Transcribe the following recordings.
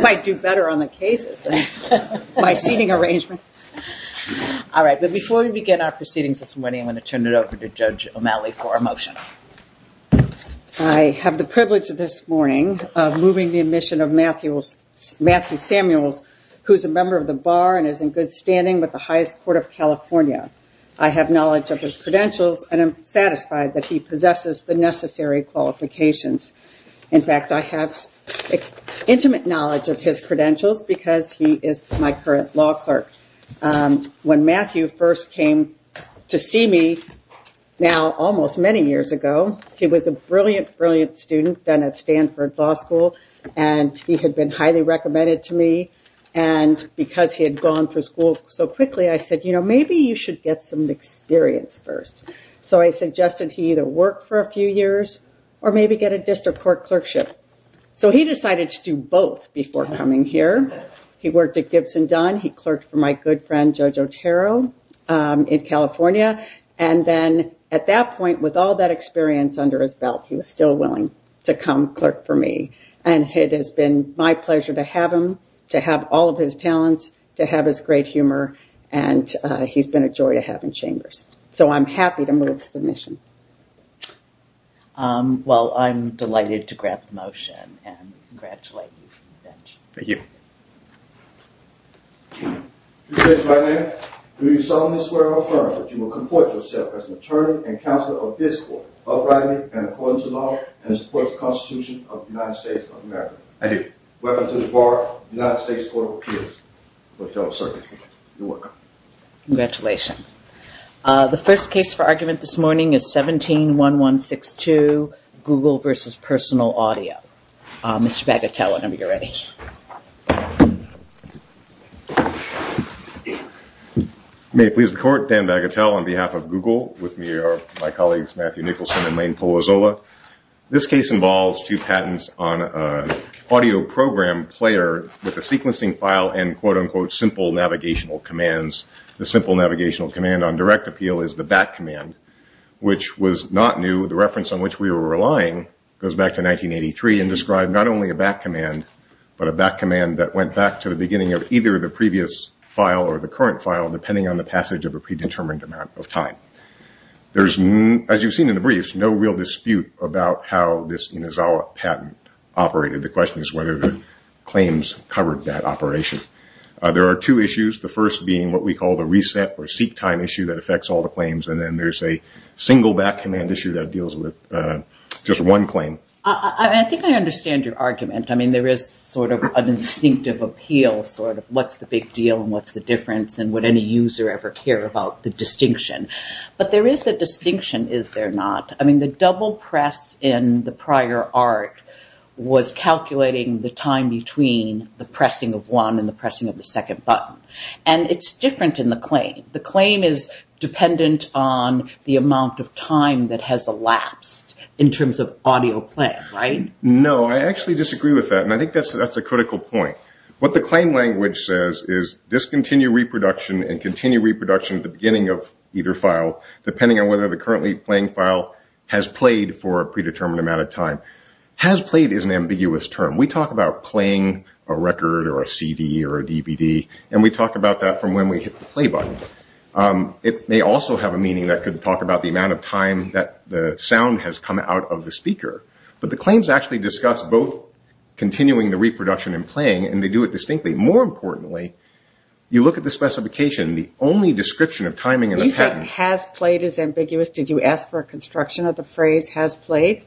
I have the privilege of this morning of moving the admission of Matthew Samuels, who is a member of the bar and is in good standing with the highest court of California. I have knowledge of his credentials and I am satisfied that he possesses the necessary qualifications. In fact, I have intimate knowledge of his past and I am pleased to present him as a member of the Bar Association. I have intimate knowledge of his credentials because he is my current law clerk. When Matthew first came to see me almost many years ago, he was a brilliant, brilliant student at Stanford Law School and he had been highly recommended to me and because he had gone through school so quickly, I said maybe you should get some experience first. So I suggested he either work for a few years or maybe get a district court clerkship. So he decided to do both before coming to me. He worked at Gibson Dunn. He clerked for my good friend, Joe Jotaro in California. And then at that point, with all that experience under his belt, he was still willing to come clerk for me. And it has been my pleasure to have him, to have all of his talents, to have his great humor, and he's been a joy to have in Chambers. So I'm happy to move the submission. Well, I'm delighted to grab the motion and congratulate you. Thank you. Do you solemnly swear or affirm that you will comport yourself as an attorney and counselor of this court, uprightly and according to law, and support the Constitution of the United States of America? I do. Welcome to the Board of United States Court of Appeals. Congratulations. The first case for argument this morning is 17-1162, Google versus personal audio. Mr. Bagatelle, whenever you're ready. May it please the Court, Dan Bagatelle on behalf of Google, with me are my colleagues Matthew Nicholson and Lane Polozola. This case involves two patents on an audio program player with a sequencing file and quote-unquote simple navigational commands. The simple navigational command on direct appeal is the back command, which was not new. The reference on which we were relying goes back to 1983 and described not only a back command, but a back command that went back to the beginning of either the previous file or the current file, depending on the passage of a predetermined amount of time. There's, as you've seen in the briefs, no real dispute about how this Inizawa patent operated. The question is whether the claims covered that operation. There are two issues, the first being what we call the reset or seek time issue that affects all the claims. And then there's a single back command issue that deals with just one claim. I think I understand your argument. I mean, there is sort of an instinctive appeal, sort of what's the big deal and what's the difference and would any user ever care about the distinction. But there is a distinction, is there not? I mean, the double press in the prior art was calculating the time between the pressing of one and the pressing of the second button. And it's different in the claim. The claim is dependent on the amount of time that has elapsed in terms of audio play, right? No, I actually disagree with that. And I think that's a critical point. What the claim language says is discontinue reproduction and continue reproduction at the beginning of either file, depending on whether the currently playing file has played for a predetermined amount of time. Has played is an ambiguous term. We talk about playing a record or a CD or a DVD, and we talk about that from when we hit the play button. It may also have a meaning that could talk about the amount of time that the sound has come out of the speaker. But the claims actually discuss both continuing the reproduction and playing, and they do it distinctly. More importantly, you look at the specification. The only description of timing in the pattern – You said has played is ambiguous. Did you ask for a construction of the phrase has played?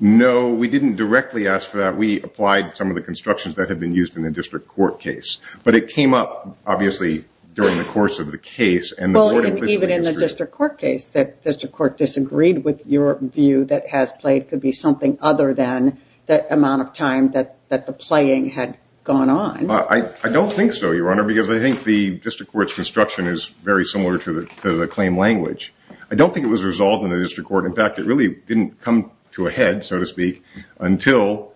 No, we didn't directly ask for that. We applied some of the constructions that have been used in the district court case. But it came up, obviously, during the course of the case. Even in the district court case, the district court disagreed with your view that has played could be something other than that amount of time that the playing had gone on. I don't think so, Your Honor, because I think the district court's construction is very similar to the claim language. I don't think it was resolved in the district court. In fact, it really didn't come to a head, so to speak, until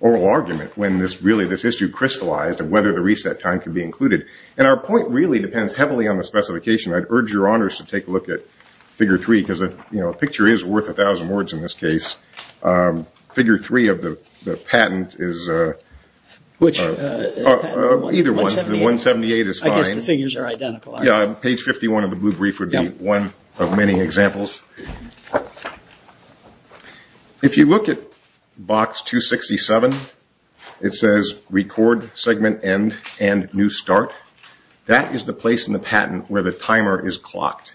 oral argument, when really this issue crystallized of whether the reset time could be included. And our point really depends heavily on the specification. I'd urge Your Honors to take a look at Figure 3, because a picture is worth a thousand words in this case. Figure 3 of the patent is – Which – Either one. 178. The 178 is fine. I guess the figures are identical. Yeah. Page 51 of the blue brief would be one of many examples. If you look at Box 267, it says record segment end and new start. That is the place in the patent where the timer is clocked.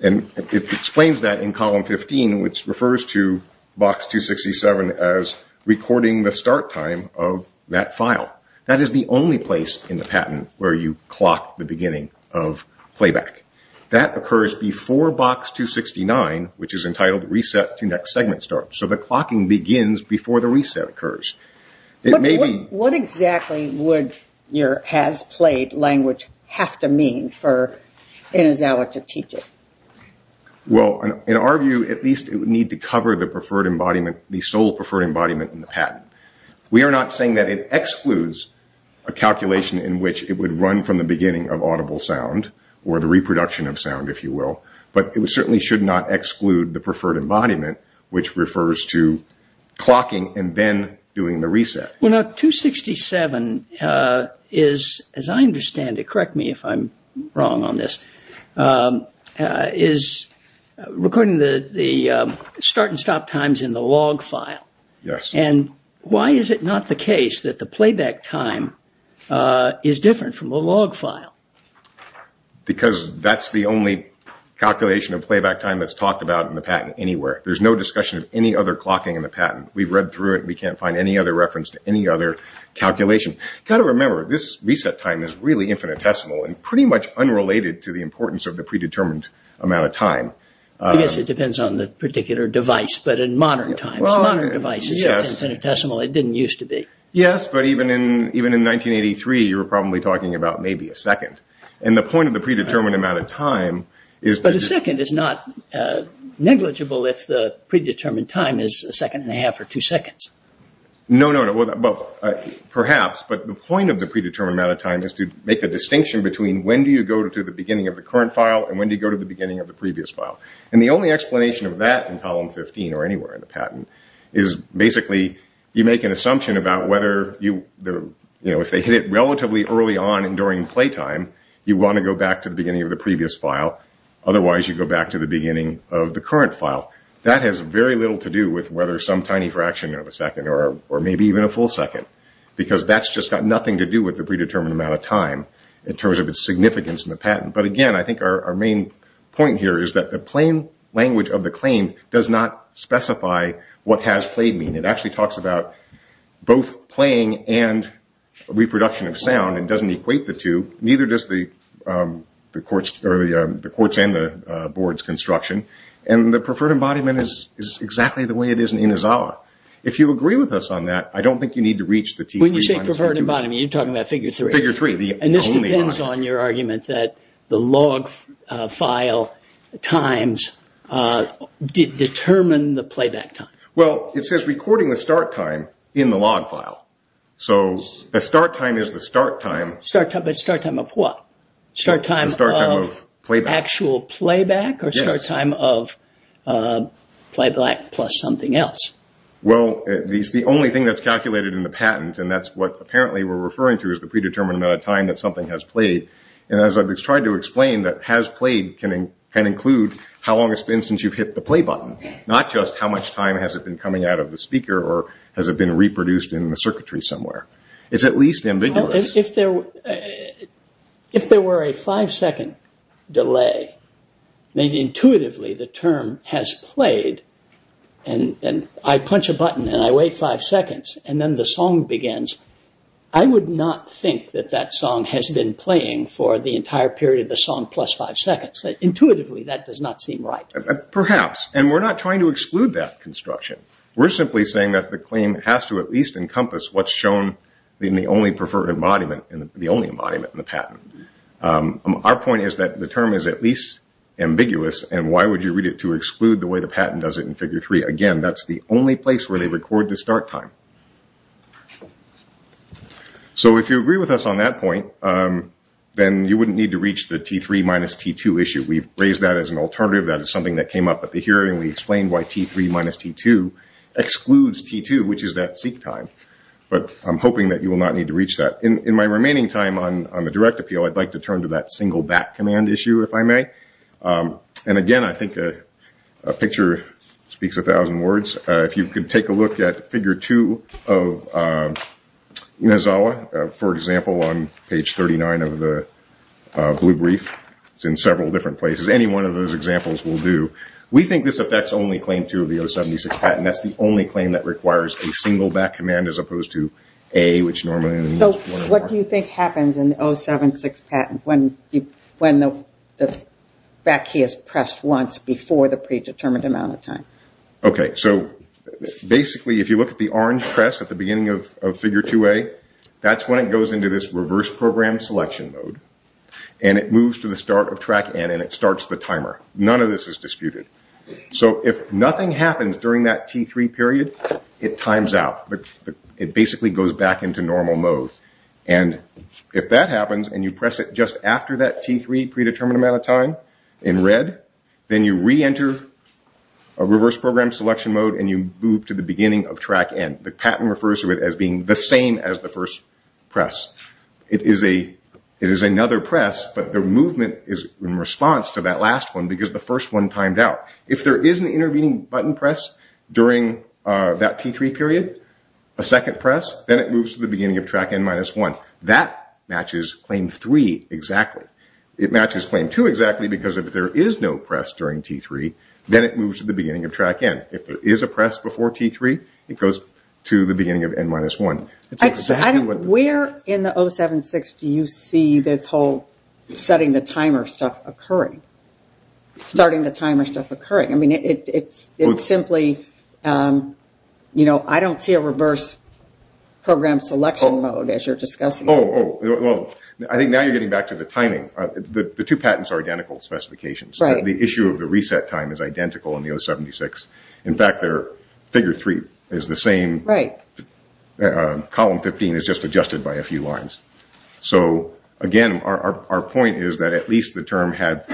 And it explains that in Column 15, which refers to Box 267 as recording the start time of that file. That is the only place in the patent where you clock the beginning of playback. That occurs before Box 269, which is entitled reset to next segment start. So the clocking begins before the reset occurs. It may be – What exactly would your has played language have to mean for Inizawa to teach it? Well, in our view, at least it would need to cover the preferred embodiment, the sole preferred embodiment in the patent. We are not saying that it excludes a calculation in which it would run from the beginning of audible sound or the reproduction of sound, if you will. But it certainly should not exclude the preferred embodiment, which refers to clocking and then doing the reset. Well, now, 267 is, as I understand it – correct me if I'm wrong on this – is recording the start and stop times in the log file. Yes. And why is it not the case that the playback time is different from the log file? Because that's the only calculation of playback time that's talked about in the patent anywhere. There's no discussion of any other clocking in the patent. We've read through it. We can't find any other reference to any other calculation. You've got to remember, this reset time is really infinitesimal and pretty much unrelated to the importance of the predetermined amount of time. Yes, it depends on the particular device, but in modern times, modern devices, it's infinitesimal. It didn't used to be. Yes, but even in 1983, you were probably talking about maybe a second. And the point of the predetermined amount of time is – But a second is not negligible if the predetermined time is a second and a half or two seconds. No, no, no. Perhaps, but the point of the predetermined amount of time is to make a distinction between when do you go to the beginning of the current file and when do you go to the beginning of the previous file. And the only explanation of that in Column 15 or anywhere in the patent is basically, you make an assumption about whether if they hit it relatively early on and during playtime, you want to go back to the beginning of the previous file. Otherwise, you go back to the beginning of the current file. That has very little to do with whether some tiny fraction of a second or maybe even a full second, because that's just got nothing to do with the predetermined amount of time in terms of its significance in the patent. But again, I think our main point here is that the plain language of the claim does not specify what has played mean. It actually talks about both playing and reproduction of sound and doesn't equate the two. Neither does the courts and the board's construction. And the preferred embodiment is exactly the way it is in Inazawa. If you agree with us on that, I don't think you need to reach the T3. When you say preferred embodiment, you're talking about Figure 3. Figure 3, the only embodiment. And this depends on your argument that the log file times determine the playback time. Well, it says recording the start time in the log file. So the start time is the start time. Start time, but start time of what? Start time of actual playback? Yes. Or start time of playback plus something else? Well, the only thing that's calculated in the patent, and that's what apparently we're referring to is the predetermined amount of time that something has played. And as I've tried to explain, that has played can include how long it's been since you've hit the play button, not just how much time has it been coming out of the speaker or has it been reproduced in the circuitry somewhere. It's at least ambiguous. Well, if there were a five-second delay, then intuitively the term has played, and I punch a button and I wait five seconds and then the song begins. I would not think that that song has been playing for the entire period of the song plus five seconds. Intuitively, that does not seem right. Perhaps. And we're not trying to exclude that construction. We're simply saying that the claim has to at least encompass what's shown in the only preferred embodiment, the only embodiment in the patent. Our point is that the term is at least ambiguous, and why would you read it to exclude the way the patent does it in Figure 3? Again, that's the only place where they record the start time. So if you agree with us on that point, then you wouldn't need to reach the T3 minus T2 issue. We've raised that as an alternative. That is something that came up at the hearing. We explained why T3 minus T2 excludes T2, which is that seek time. But I'm hoping that you will not need to reach that. In my remaining time on the direct appeal, I'd like to turn to that single back command issue, if I may. And again, I think a picture speaks a thousand words. If you could take a look at Figure 2 of Inazawa, for example, on page 39 of the blue brief. It's in several different places. Any one of those examples will do. We think this affects only Claim 2 of the 076 patent. That's the only claim that requires a single back command as opposed to A, which normally... So what do you think happens in the 076 patent when the back key is pressed once before the predetermined amount of time? Basically, if you look at the orange press at the beginning of Figure 2A, that's when it goes into this reverse program selection mode, and it moves to the start of Track N, and it starts the timer. None of this is disputed. So if nothing happens during that T3 period, it times out. It basically goes back into normal mode. And if that happens, and you press it just after that T3 predetermined amount of time in red, then you re-enter a reverse program selection mode, and you move to the beginning of Track N. The patent refers to it as being the same as the first press. It is another press, but the movement is in response to that last one because the first one timed out. If there is an intervening button press during that T3 period, a second press, then it moves to the beginning of Track N-1. That matches Claim 3 exactly. It matches Claim 2 exactly because if there is no press during T3, then it moves to the beginning of Track N. If there is a press before T3, it goes to the beginning of N-1. Where in the 076 do you see this whole setting the timer stuff occurring? Starting the timer stuff occurring? I don't see a reverse program selection mode as you are discussing. I think now you are getting back to the timing. The two patents are identical specifications. The issue of the reset time is identical in the 076. In fact, Figure 3 is the same. Column 15 is just adjusted by a few lines. Again, our point is that at least the term has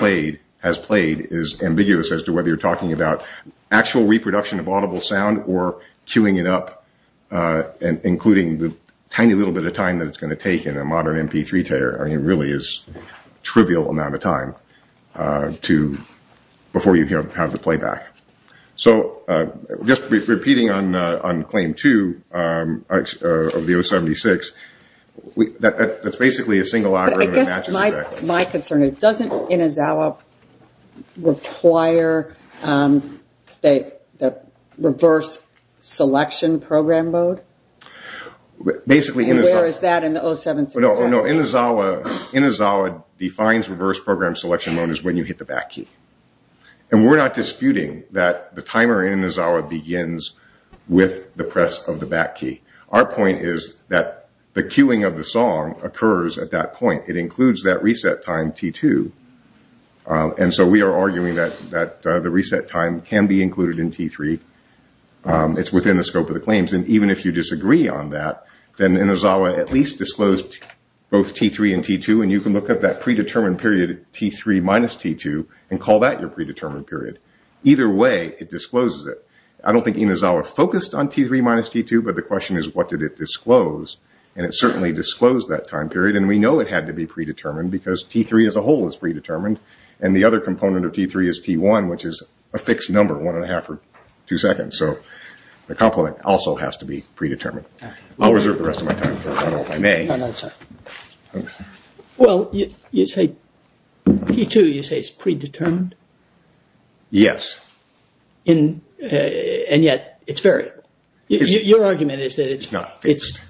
played is ambiguous as to whether you are talking about actual reproduction of audible sound or queuing it up, including the tiny little bit of time it is going to take in a modern MP3 player. It really is a trivial amount of time before you have the playback. Just repeating on Claim 2 of the 076, that is basically a single algorithm. My concern is, doesn't Inazawa require the reverse selection program mode? Where is that in the 076? Inazawa defines reverse program selection mode as when you hit the back key. We are not disputing that the timer in Inazawa begins with the press of the back key. Our point is that the queuing of the song occurs at that point. It includes that reset time, T2. We are arguing that the reset time can be included in T3. It is within the scope of the claims. Even if you disagree on that, then Inazawa at least disclosed both T3 and T2. You can look at that predetermined period, T3 minus T2, and call that your predetermined period. Either way, it discloses it. I don't think Inazawa focused on T3 minus T2, but the question is, what did it disclose? It certainly disclosed that time period. We know it had to be predetermined because T3 as a whole is predetermined. The other component of T3 is T1, which is a fixed number, one and a half or two seconds. The complement also has to be predetermined. I'll reserve the rest of my time for a moment, if I may. Well, you say T2 is predetermined? Yes. And yet it's variable. Your argument is that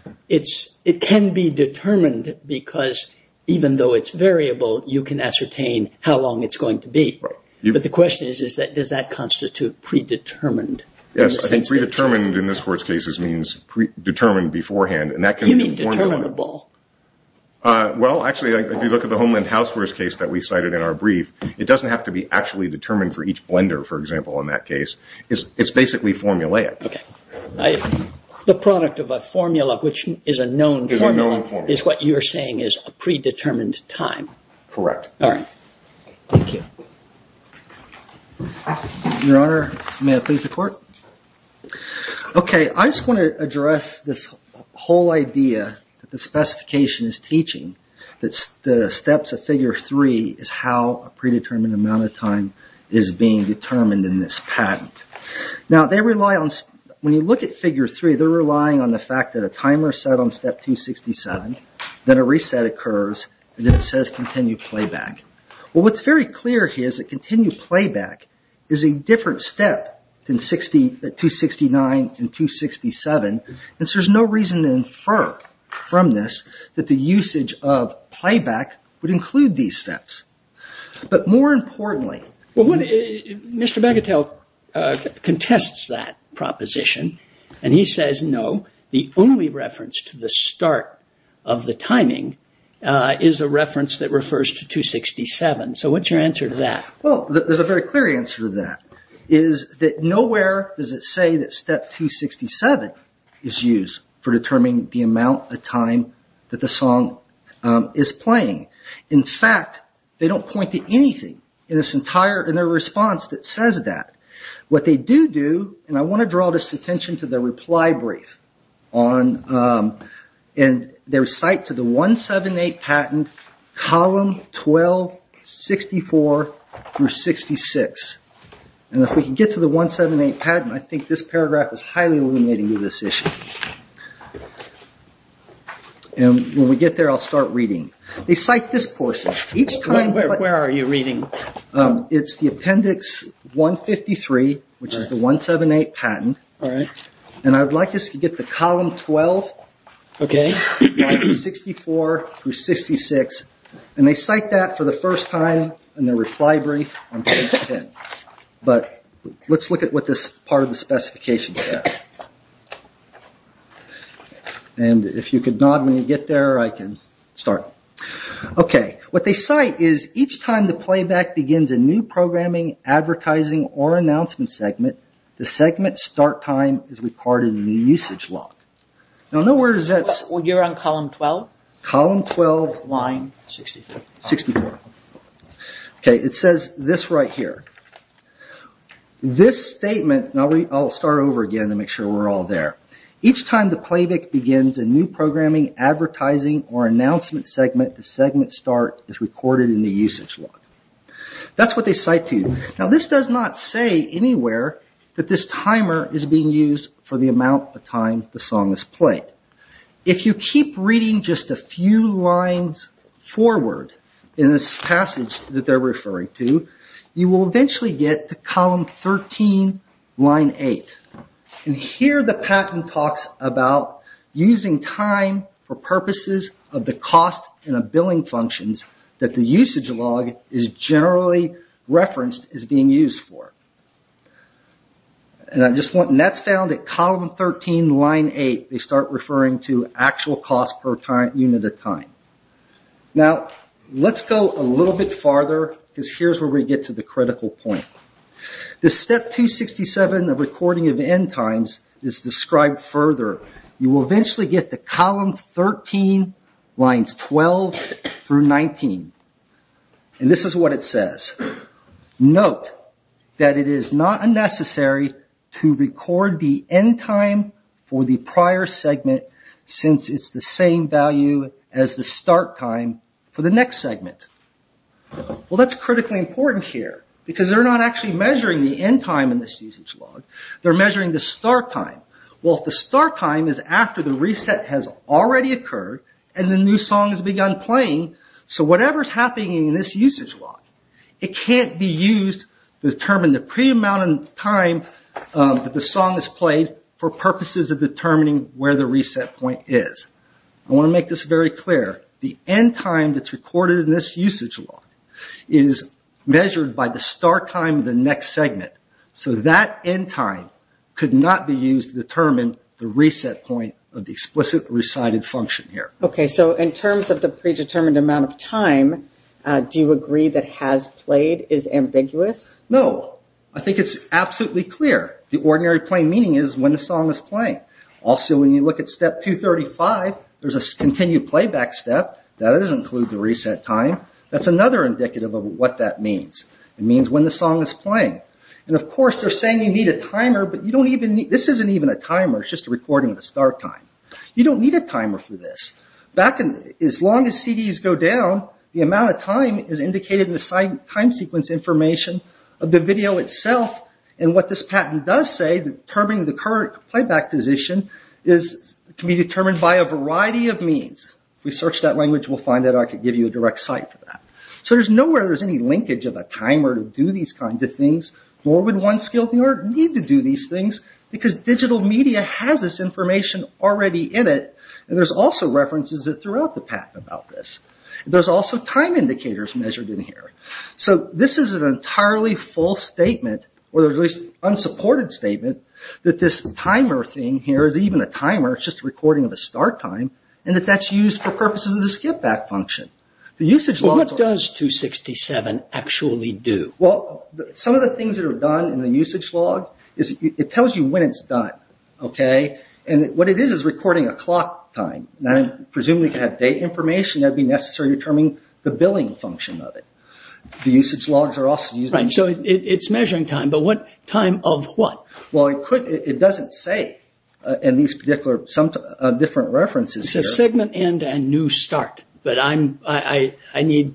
it can be determined because even though it's variable, you can ascertain how long it's going to be. But the question is, does that constitute predetermined? Yes, I think predetermined in this Court's case means predetermined beforehand. You mean determinable? Well, actually, if you look at the Homeland Houseware's case that we cited in our brief, it doesn't have to be actually determined for each blender, for example, in that case. It's basically formulaic. Okay. The product of a formula, which is a known formula, is what you're saying is a predetermined time. Correct. All right. Thank you. Your Honor, may I please the Court? Okay. I just want to address this whole idea that the specification is teaching, that the steps of Figure 3 is how a predetermined amount of time is being determined in this patent. Now, when you look at Figure 3, they're relying on the fact that a timer is set on Step 267, then a reset occurs, and then it says continue playback. Well, what's very clear here is that continue playback is a different step than 269 and 267, and so there's no reason to infer from this that the usage of playback would include these steps. But more importantly… Well, Mr. Begatel contests that proposition, and he says, no, the only reference to the start of the timing is a reference that refers to 267. So what's your answer to that? Well, there's a very clear answer to that, is that nowhere does it say that Step 267 is used for determining the amount of time that the song is playing. In fact, they don't point to anything in their response that says that. What they do do, and I want to draw this attention to their reply brief, and their cite to the 178 patent, column 12, 64 through 66. And if we can get to the 178 patent, I think this paragraph is highly illuminating to this issue. And when we get there, I'll start reading. They cite this portion. Where are you reading? It's the appendix 153, which is the 178 patent. And I would like us to get to column 12, 64 through 66. And they cite that for the first time in their reply brief. But let's look at what this part of the specification says. And if you could nod when you get there, I can start. What they cite is, each time the playback begins a new programming, advertising, or announcement segment, the segment's start time is recorded in the usage log. You're on column 12? Column 12, line 64. It says this right here. This statement, and I'll start over again to make sure we're all there. Each time the playback begins a new programming, advertising, or announcement segment, the segment's start is recorded in the usage log. That's what they cite to you. Now, this does not say anywhere that this timer is being used for the amount of time the song is played. If you keep reading just a few lines forward in this passage that they're referring to, you will eventually get to column 13, line 8. And here the patent talks about using time for purposes of the cost in a billing functions that the usage log is generally referenced as being used for. And that's found at column 13, line 8. They start referring to actual cost per unit of time. Now, let's go a little bit farther, because here's where we get to the critical point. The step 267 of recording of end times is described further. You will eventually get to column 13, lines 12 through 19. And this is what it says. Note that it is not unnecessary to record the end time for the prior segment since it's the same value as the start time for the next segment. Well, that's critically important here, because they're not actually measuring the end time in this usage log. They're measuring the start time. Well, if the start time is after the reset has already occurred and the new song has begun playing, so whatever's happening in this usage log, it can't be used to determine the pre-amount of time that the song is played for purposes of determining where the reset point is. I want to make this very clear. The end time that's recorded in this usage log is measured by the start time of the next segment. So that end time could not be used to determine the reset point of the explicit recited function here. Okay, so in terms of the predetermined amount of time, do you agree that has played is ambiguous? No. I think it's absolutely clear. The ordinary plain meaning is when the song is playing. Also, when you look at step 235, there's a continued playback step. That doesn't include the reset time. That's another indicative of what that means. It means when the song is playing. And, of course, they're saying you need a timer, but this isn't even a timer. It's just a recording of the start time. You don't need a timer for this. As long as CDs go down, the amount of time is indicated in the time sequence information of the video itself. And what this patent does say, determining the current playback position can be determined by a variety of means. If we search that language, we'll find that I could give you a direct site for that. So there's nowhere there's any linkage of a timer to do these kinds of things. Nor would one skilled viewer need to do these things because digital media has this information already in it. And there's also references throughout the patent about this. There's also time indicators measured in here. So this is an entirely false statement, or at least unsupported statement, that this timer thing here is even a timer. It's just a recording of the start time, and that that's used for purposes of the skip back function. What does 267 actually do? Well, some of the things that are done in the usage log is it tells you when it's done. And what it is is recording a clock time. Presumably to have date information, it would be necessary to determine the billing function of it. The usage logs are also used. So it's measuring time, but time of what? Well, it doesn't say in these different references. It says segment end and new start, but I need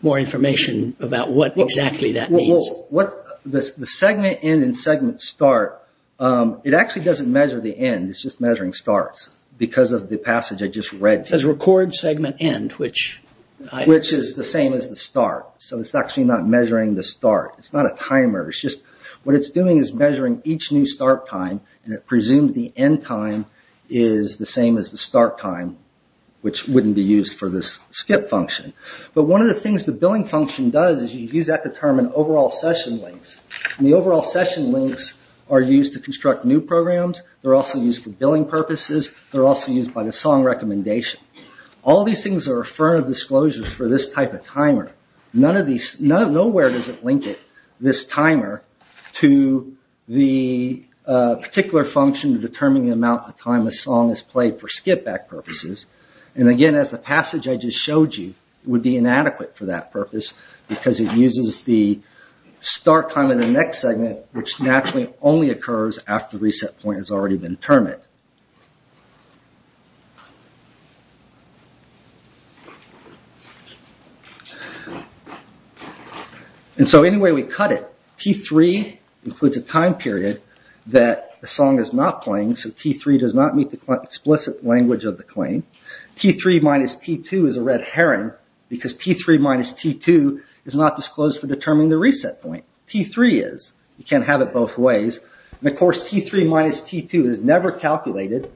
more information about what exactly that means. The segment end and segment start, it actually doesn't measure the end. It's just measuring starts because of the passage I just read. It says record segment end. Which is the same as the start. So it's actually not measuring the start. It's not a timer. What it's doing is measuring each new start time, and it presumes the end time is the same as the start time, which wouldn't be used for this skip function. But one of the things the billing function does is you use that to determine overall session links. And the overall session links are used to construct new programs. They're also used for billing purposes. They're also used by the song recommendation. All these things are affirmative disclosures for this type of timer. Nowhere does it link this timer to the particular function to determine the amount of time a song is played for skip back purposes. And again, as the passage I just showed you would be inadequate for that purpose because it uses the start time of the next segment, which naturally only occurs after reset point has already been determined. And so anyway we cut it, T3 includes a time period that the song is not playing, so T3 does not meet the explicit language of the claim. T3 minus T2 is a red herring because T3 minus T2 is not disclosed for determining the reset point. T3 is. You can't have it both ways. And of course T3 minus T2 is never calculated,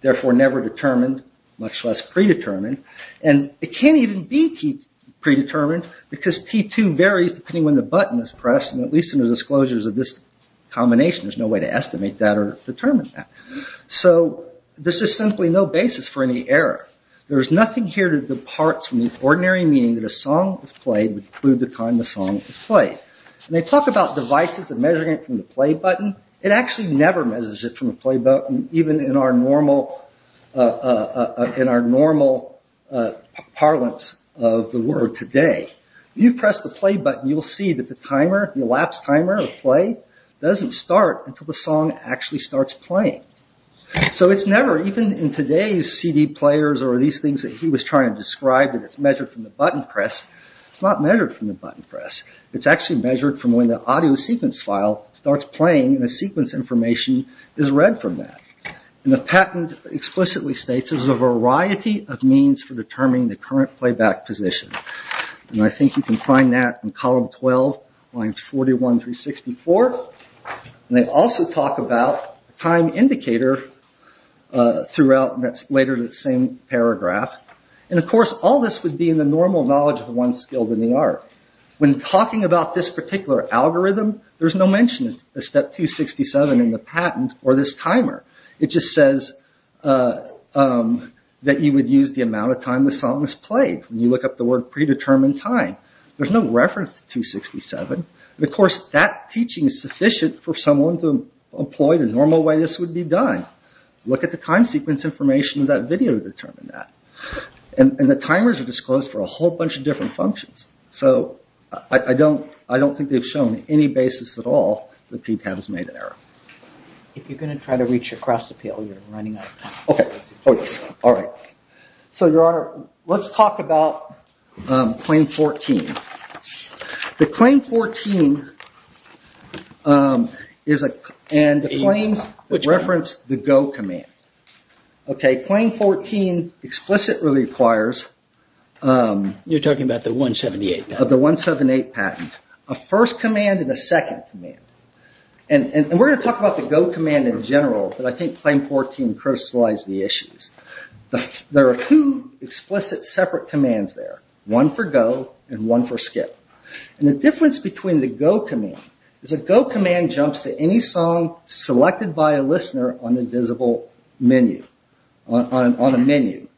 therefore never determined, much less predetermined. And it can't even be predetermined because T2 varies depending on when the button is pressed, and at least in the disclosures of this combination there's no way to estimate that or determine that. So there's just simply no basis for any error. There's nothing here that departs from the ordinary meaning that a song is played would include the time the song is played. And they talk about devices and measuring it from the play button. It actually never measures it from the play button, even in our normal parlance of the world today. If you press the play button, you'll see that the elapsed timer of play doesn't start until the song actually starts playing. So it's never, even in today's CD players or these things that he was trying to describe, that it's measured from the button press. It's not measured from the button press. It's actually measured from when the audio sequence file starts playing and the sequence information is read from that. And the patent explicitly states there's a variety of means for determining the current playback position. And I think you can find that in column 12, lines 41 through 64. And they also talk about time indicator throughout later in the same paragraph. And, of course, all this would be in the normal knowledge of the one skilled in the art. When talking about this particular algorithm, there's no mention of step 267 in the patent or this timer. It just says that you would use the amount of time the song is played. You look up the word predetermined time. There's no reference to 267. And, of course, that teaching is sufficient for someone to employ the normal way this would be done. Look at the time sequence information in that video to determine that. And the timers are disclosed for a whole bunch of different functions. So I don't think they've shown any basis at all that PTAB has made an error. If you're going to try to reach across the field, you're running out of time. Okay. Oh, yes. All right. So, Your Honor, let's talk about Claim 14. The Claim 14 is a claim that referenced the go command. Okay. Claim 14 explicitly requires... You're talking about the 178 patent. The 178 patent. A first command and a second command. And we're going to talk about the go command in general, but I think Claim 14 crystallized the issues. There are two explicit separate commands there, one for go and one for skip. And the difference between the go command is a go command jumps to any song selected by a listener on a visible menu. On a menu.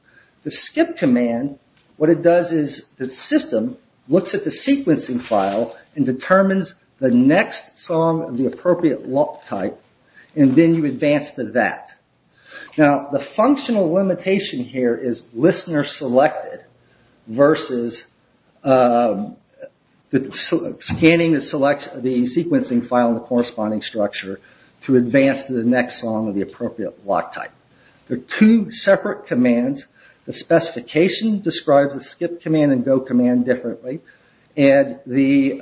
The skip command, what it does is the system looks at the sequencing file and determines the next song of the appropriate lock type, and then you advance to that. Now, the functional limitation here is listener selected versus scanning the sequencing file and the corresponding structure to advance to the next song of the appropriate lock type. They're two separate commands. The specification describes the skip command and go command differently. And the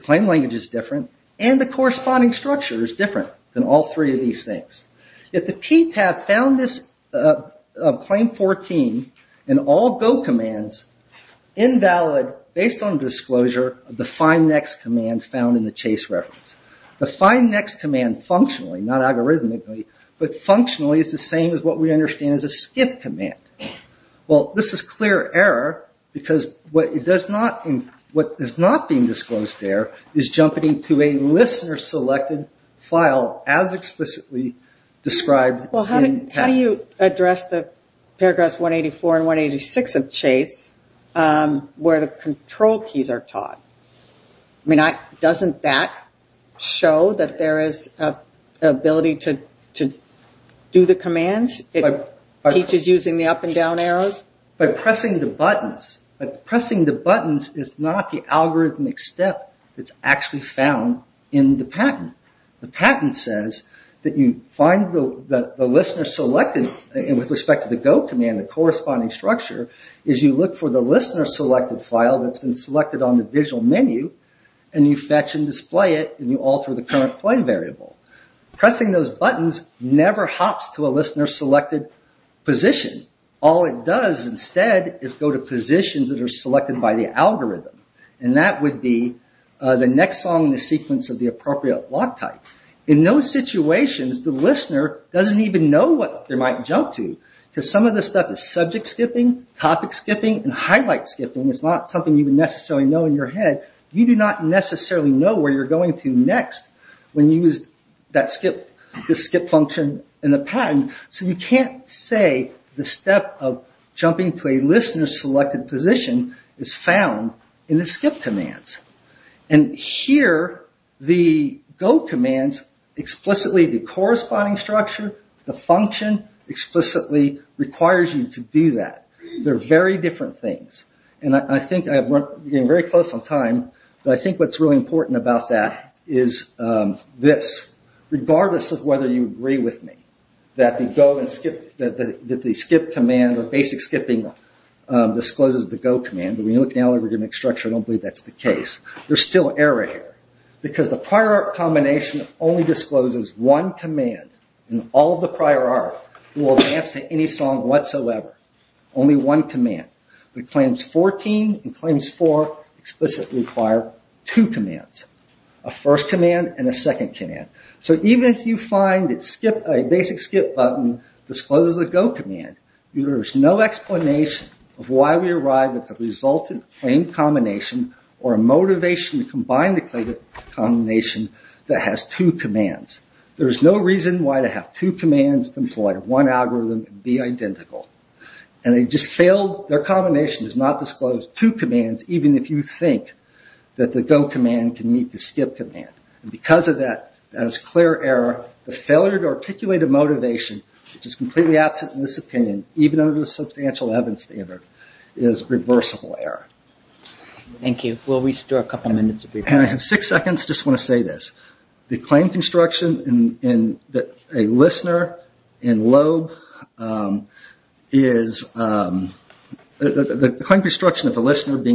claim language is different. And the corresponding structure is different than all three of these things. Yet the PTAB found this Claim 14 in all go commands invalid based on disclosure of the find next command found in the chase reference. The find next command functionally, not algorithmically, but functionally is the same as what we understand as a skip command. Well, this is clear error because what is not being disclosed there is jumping to a listener selected file as explicitly described. Well, how do you address the paragraphs 184 and 186 of chase where the control keys are taught? I mean, doesn't that show that there is an ability to do the commands? It teaches using the up and down arrows? By pressing the buttons. Pressing the buttons is not the algorithmic step that's actually found in the patent. The patent says that you find the listener selected, and with respect to the go command, the corresponding structure is you look for the listener selected file that's been selected on the visual menu, and you fetch and display it, and you alter the current claim variable. Pressing those buttons never hops to a listener selected position. All it does instead is go to positions that are selected by the algorithm, and that would be the next song in the sequence of the appropriate block type. In those situations, the listener doesn't even know what they might jump to, because some of this stuff is subject skipping, topic skipping, and highlight skipping. It's not something you would necessarily know in your head. You do not necessarily know where you're going to next when you use this skip function in the patent, so you can't say the step of jumping to a listener selected position is found in the skip commands. Here, the go commands explicitly, the corresponding structure, the function explicitly requires you to do that. They're very different things. I think I'm getting very close on time, but I think what's really important about that is this. Regardless of whether you agree with me that the skip command or basic skipping discloses the go command, but when you look at the algorithmic structure, I don't believe that's the case. There's still error here, because the prior art combination only discloses one command, and all of the prior art will advance to any song whatsoever. Only one command. The claims 14 and claims 4 explicitly require two commands, a first command and a second command. So even if you find a basic skip button discloses a go command, there's no explanation of why we arrive at the resultant claim combination or a motivation to combine the claim combination that has two commands. There's no reason why to have two commands employ one algorithm and be identical. Their combination does not disclose two commands, even if you think that the go command can meet the skip command. Because of that, that is clear error. The failure to articulate a motivation, which is completely absent in this opinion, even under the substantial evidence standard, is reversible error. Thank you. We'll restore a couple minutes of your time. I have six seconds. I just want to say this. The claim construction of a listener being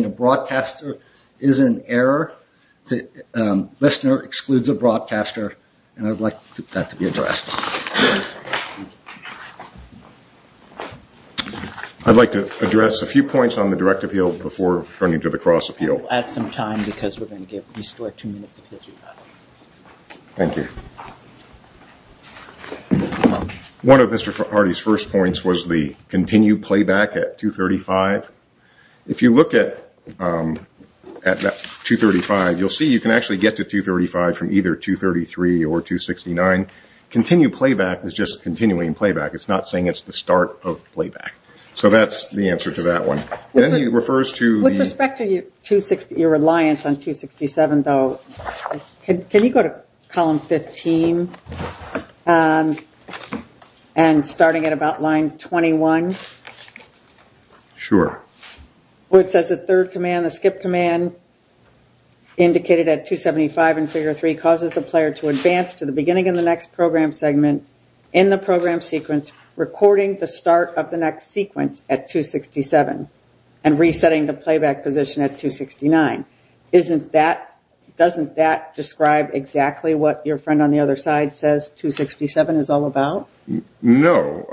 a broadcaster is an error. The listener excludes a broadcaster, and I'd like that to be addressed. I'd like to address a few points on the direct appeal before turning to the cross appeal. We'll add some time because we're going to restore two minutes of his rebuttal. Thank you. One of Mr. Hardy's first points was the continued playback at 235. If you look at 235, you'll see you can actually get to 235 from either 233 or 269. Continued playback is just continuing playback. It's not saying it's the start of playback. So that's the answer to that one. With respect to your reliance on 267, though, can you go to column 15 and starting at about line 21? Sure. Where it says the third command, the skip command, indicated at 275 in figure three, causes the player to advance to the beginning of the next program segment in the program sequence, recording the start of the next sequence at 267, and resetting the playback position at 269. Doesn't that describe exactly what your friend on the other side says 267 is all about? No.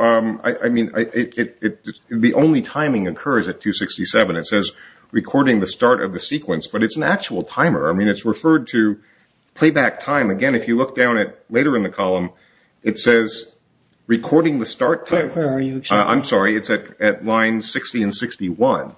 The only timing occurs at 267. It says recording the start of the sequence, but it's an actual timer. It's referred to playback time. Again, if you look down at later in the column, it says recording the start time. Where are you exactly? I'm sorry. It's at line 60 and 61.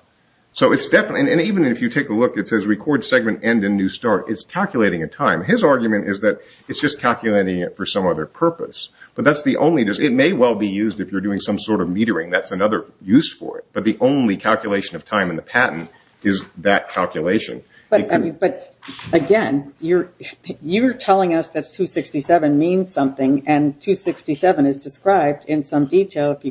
Even if you take a look, it says record segment end in new start. It's calculating a time. His argument is that it's just calculating it for some other purpose. It may well be used if you're doing some sort of metering. That's another use for it. But the only calculation of time in the patent is that calculation. Again, you're telling us that 267 means something, and 267 is described in some detail. If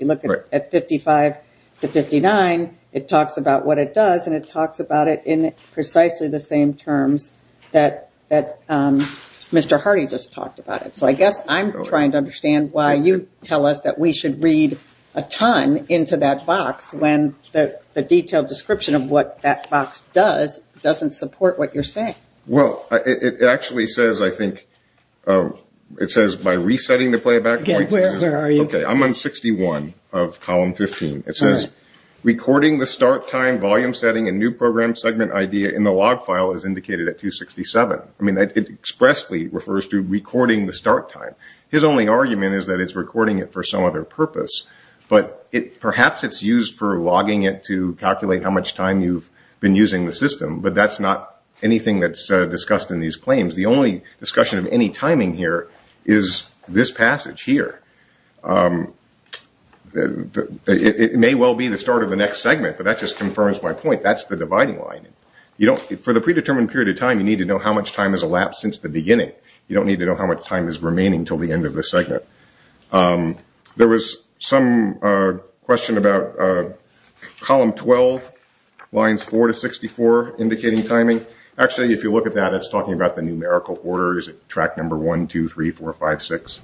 you look at 55 to 59, it talks about what it does, and it talks about it in precisely the same terms that Mr. Hardy just talked about it. So I guess I'm trying to understand why you tell us that we should read a ton into that box when the detailed description of what that box does doesn't support what you're saying. Well, it actually says, I think, it says by resetting the playback point. Where are you? I'm on 61 of column 15. It says recording the start time, volume setting, and new program segment idea in the log file is indicated at 267. It expressly refers to recording the start time. His only argument is that it's recording it for some other purpose. But perhaps it's used for logging it to calculate how much time you've been using the system, but that's not anything that's discussed in these claims. The only discussion of any timing here is this passage here. It may well be the start of the next segment, but that just confirms my point. That's the dividing line. For the predetermined period of time, you need to know how much time has elapsed since the beginning. You don't need to know how much time is remaining until the end of the segment. There was some question about column 12, lines 4 to 64, indicating timing. Actually, if you look at that, it's talking about the numerical order. Is it track number 1, 2, 3, 4, 5, 6?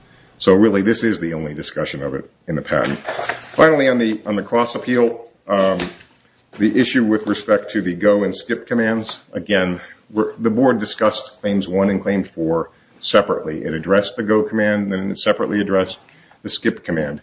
Really, this is the only discussion of it in the patent. Finally, on the cross-appeal, the issue with respect to the go and skip commands. Again, the board discussed claims 1 and claim 4 separately. It addressed the go command, and then it separately addressed the skip command.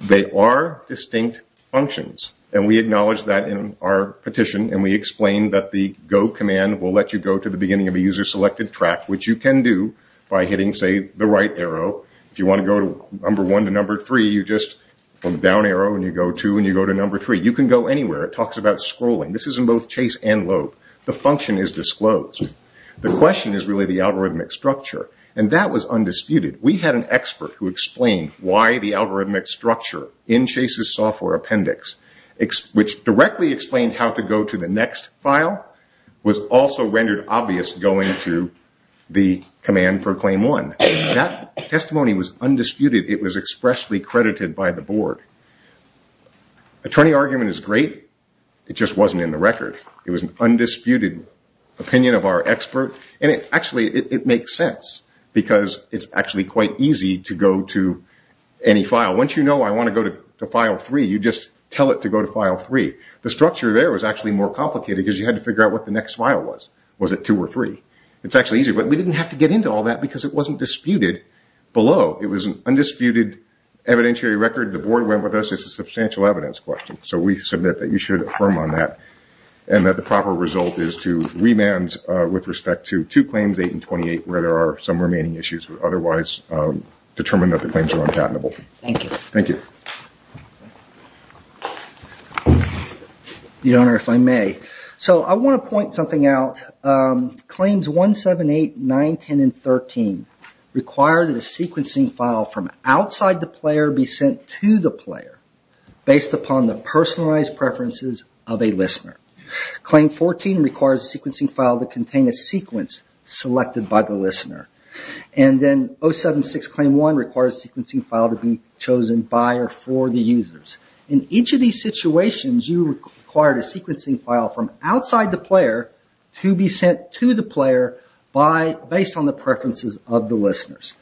They are distinct functions, and we acknowledge that in our petition, and we explain that the go command will let you go to the beginning of a user-selected track, which you can do by hitting, say, the right arrow. If you want to go to number 1 to number 3, you just, from the down arrow, and you go 2 and you go to number 3. You can go anywhere. It talks about scrolling. This is in both chase and lope. The function is disclosed. The question is really the algorithmic structure, and that was undisputed. We had an expert who explained why the algorithmic structure in Chase's software appendix, which directly explained how to go to the next file, was also rendered obvious going to the command for claim 1. That testimony was undisputed. It was expressly credited by the board. Attorney argument is great. It just wasn't in the record. It was an undisputed opinion of our expert. Actually, it makes sense because it's actually quite easy to go to any file. Once you know I want to go to file 3, you just tell it to go to file 3. The structure there was actually more complicated because you had to figure out what the next file was. Was it 2 or 3? It's actually easy, but we didn't have to get into all that because it wasn't disputed below. It was an undisputed evidentiary record. The board went with us. It's a substantial evidence question, so we submit that you should affirm on that. The proper result is to remand with respect to two claims, 8 and 28, where there are some remaining issues. Otherwise, determine that the claims are unpatentable. Thank you. Thank you. Your Honor, if I may. I want to point something out. Claims 1, 7, 8, 9, 10, and 13 require that a sequencing file from outside the player be sent to the player based upon the personalized preferences of a listener. Claim 14 requires a sequencing file to contain a sequence selected by the listener. And then 076 claim 1 requires a sequencing file to be chosen by or for the users. In each of these situations, you required a sequencing file from outside the player to be sent to the player based on the preferences of the listeners.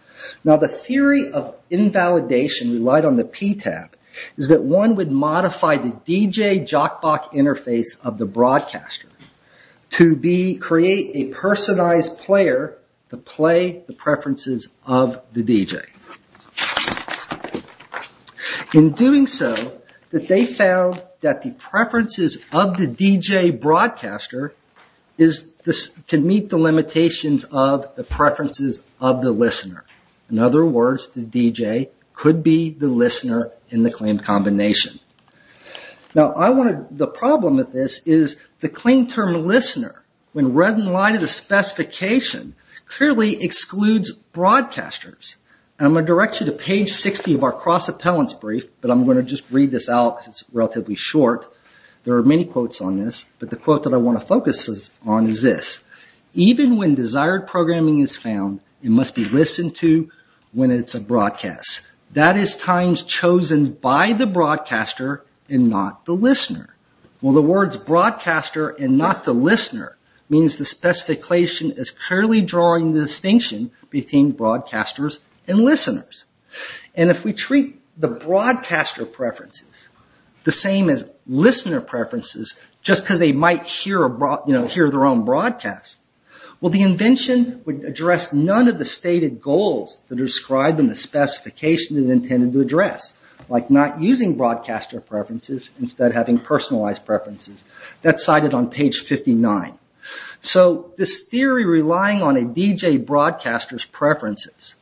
Now, the theory of invalidation relied on the PTAB, is that one would modify the DJ jockbox interface of the broadcaster to create a personalized player to play the preferences of the DJ. In doing so, they found that the preferences of the DJ broadcaster can meet the limitations of the preferences of the listener. In other words, the DJ could be the listener in the claim combination. Now, the problem with this is the claim term listener, when read in light of the specification, clearly excludes broadcasters. I'm going to direct you to page 60 of our cross-appellants brief, but I'm going to just read this out because it's relatively short. There are many quotes on this, but the quote that I want to focus on is this. Even when desired programming is found, it must be listened to when it's a broadcast. That is times chosen by the broadcaster and not the listener. Well, the words broadcaster and not the listener means the specification is clearly drawing the distinction between broadcasters and listeners. If we treat the broadcaster preferences the same as listener preferences, just because they might hear their own broadcast, the invention would address none of the stated goals that are described in the specification it intended to address, like not using broadcaster preferences instead of having personalized preferences. That's cited on page 59. So this theory relying on a DJ broadcaster's preferences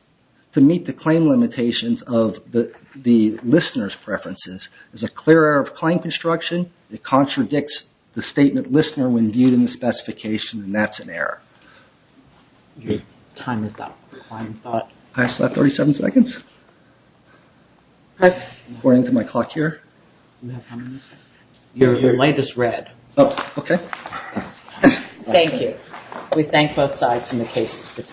to meet the claim limitations of the listener's preferences is a clear error of claim construction. It contradicts the statement listener when viewed in the specification, and that's an error. Your time is up. I still have 37 seconds? According to my clock here? Your light is red. Oh, okay. Thank you. We thank both sides in the case.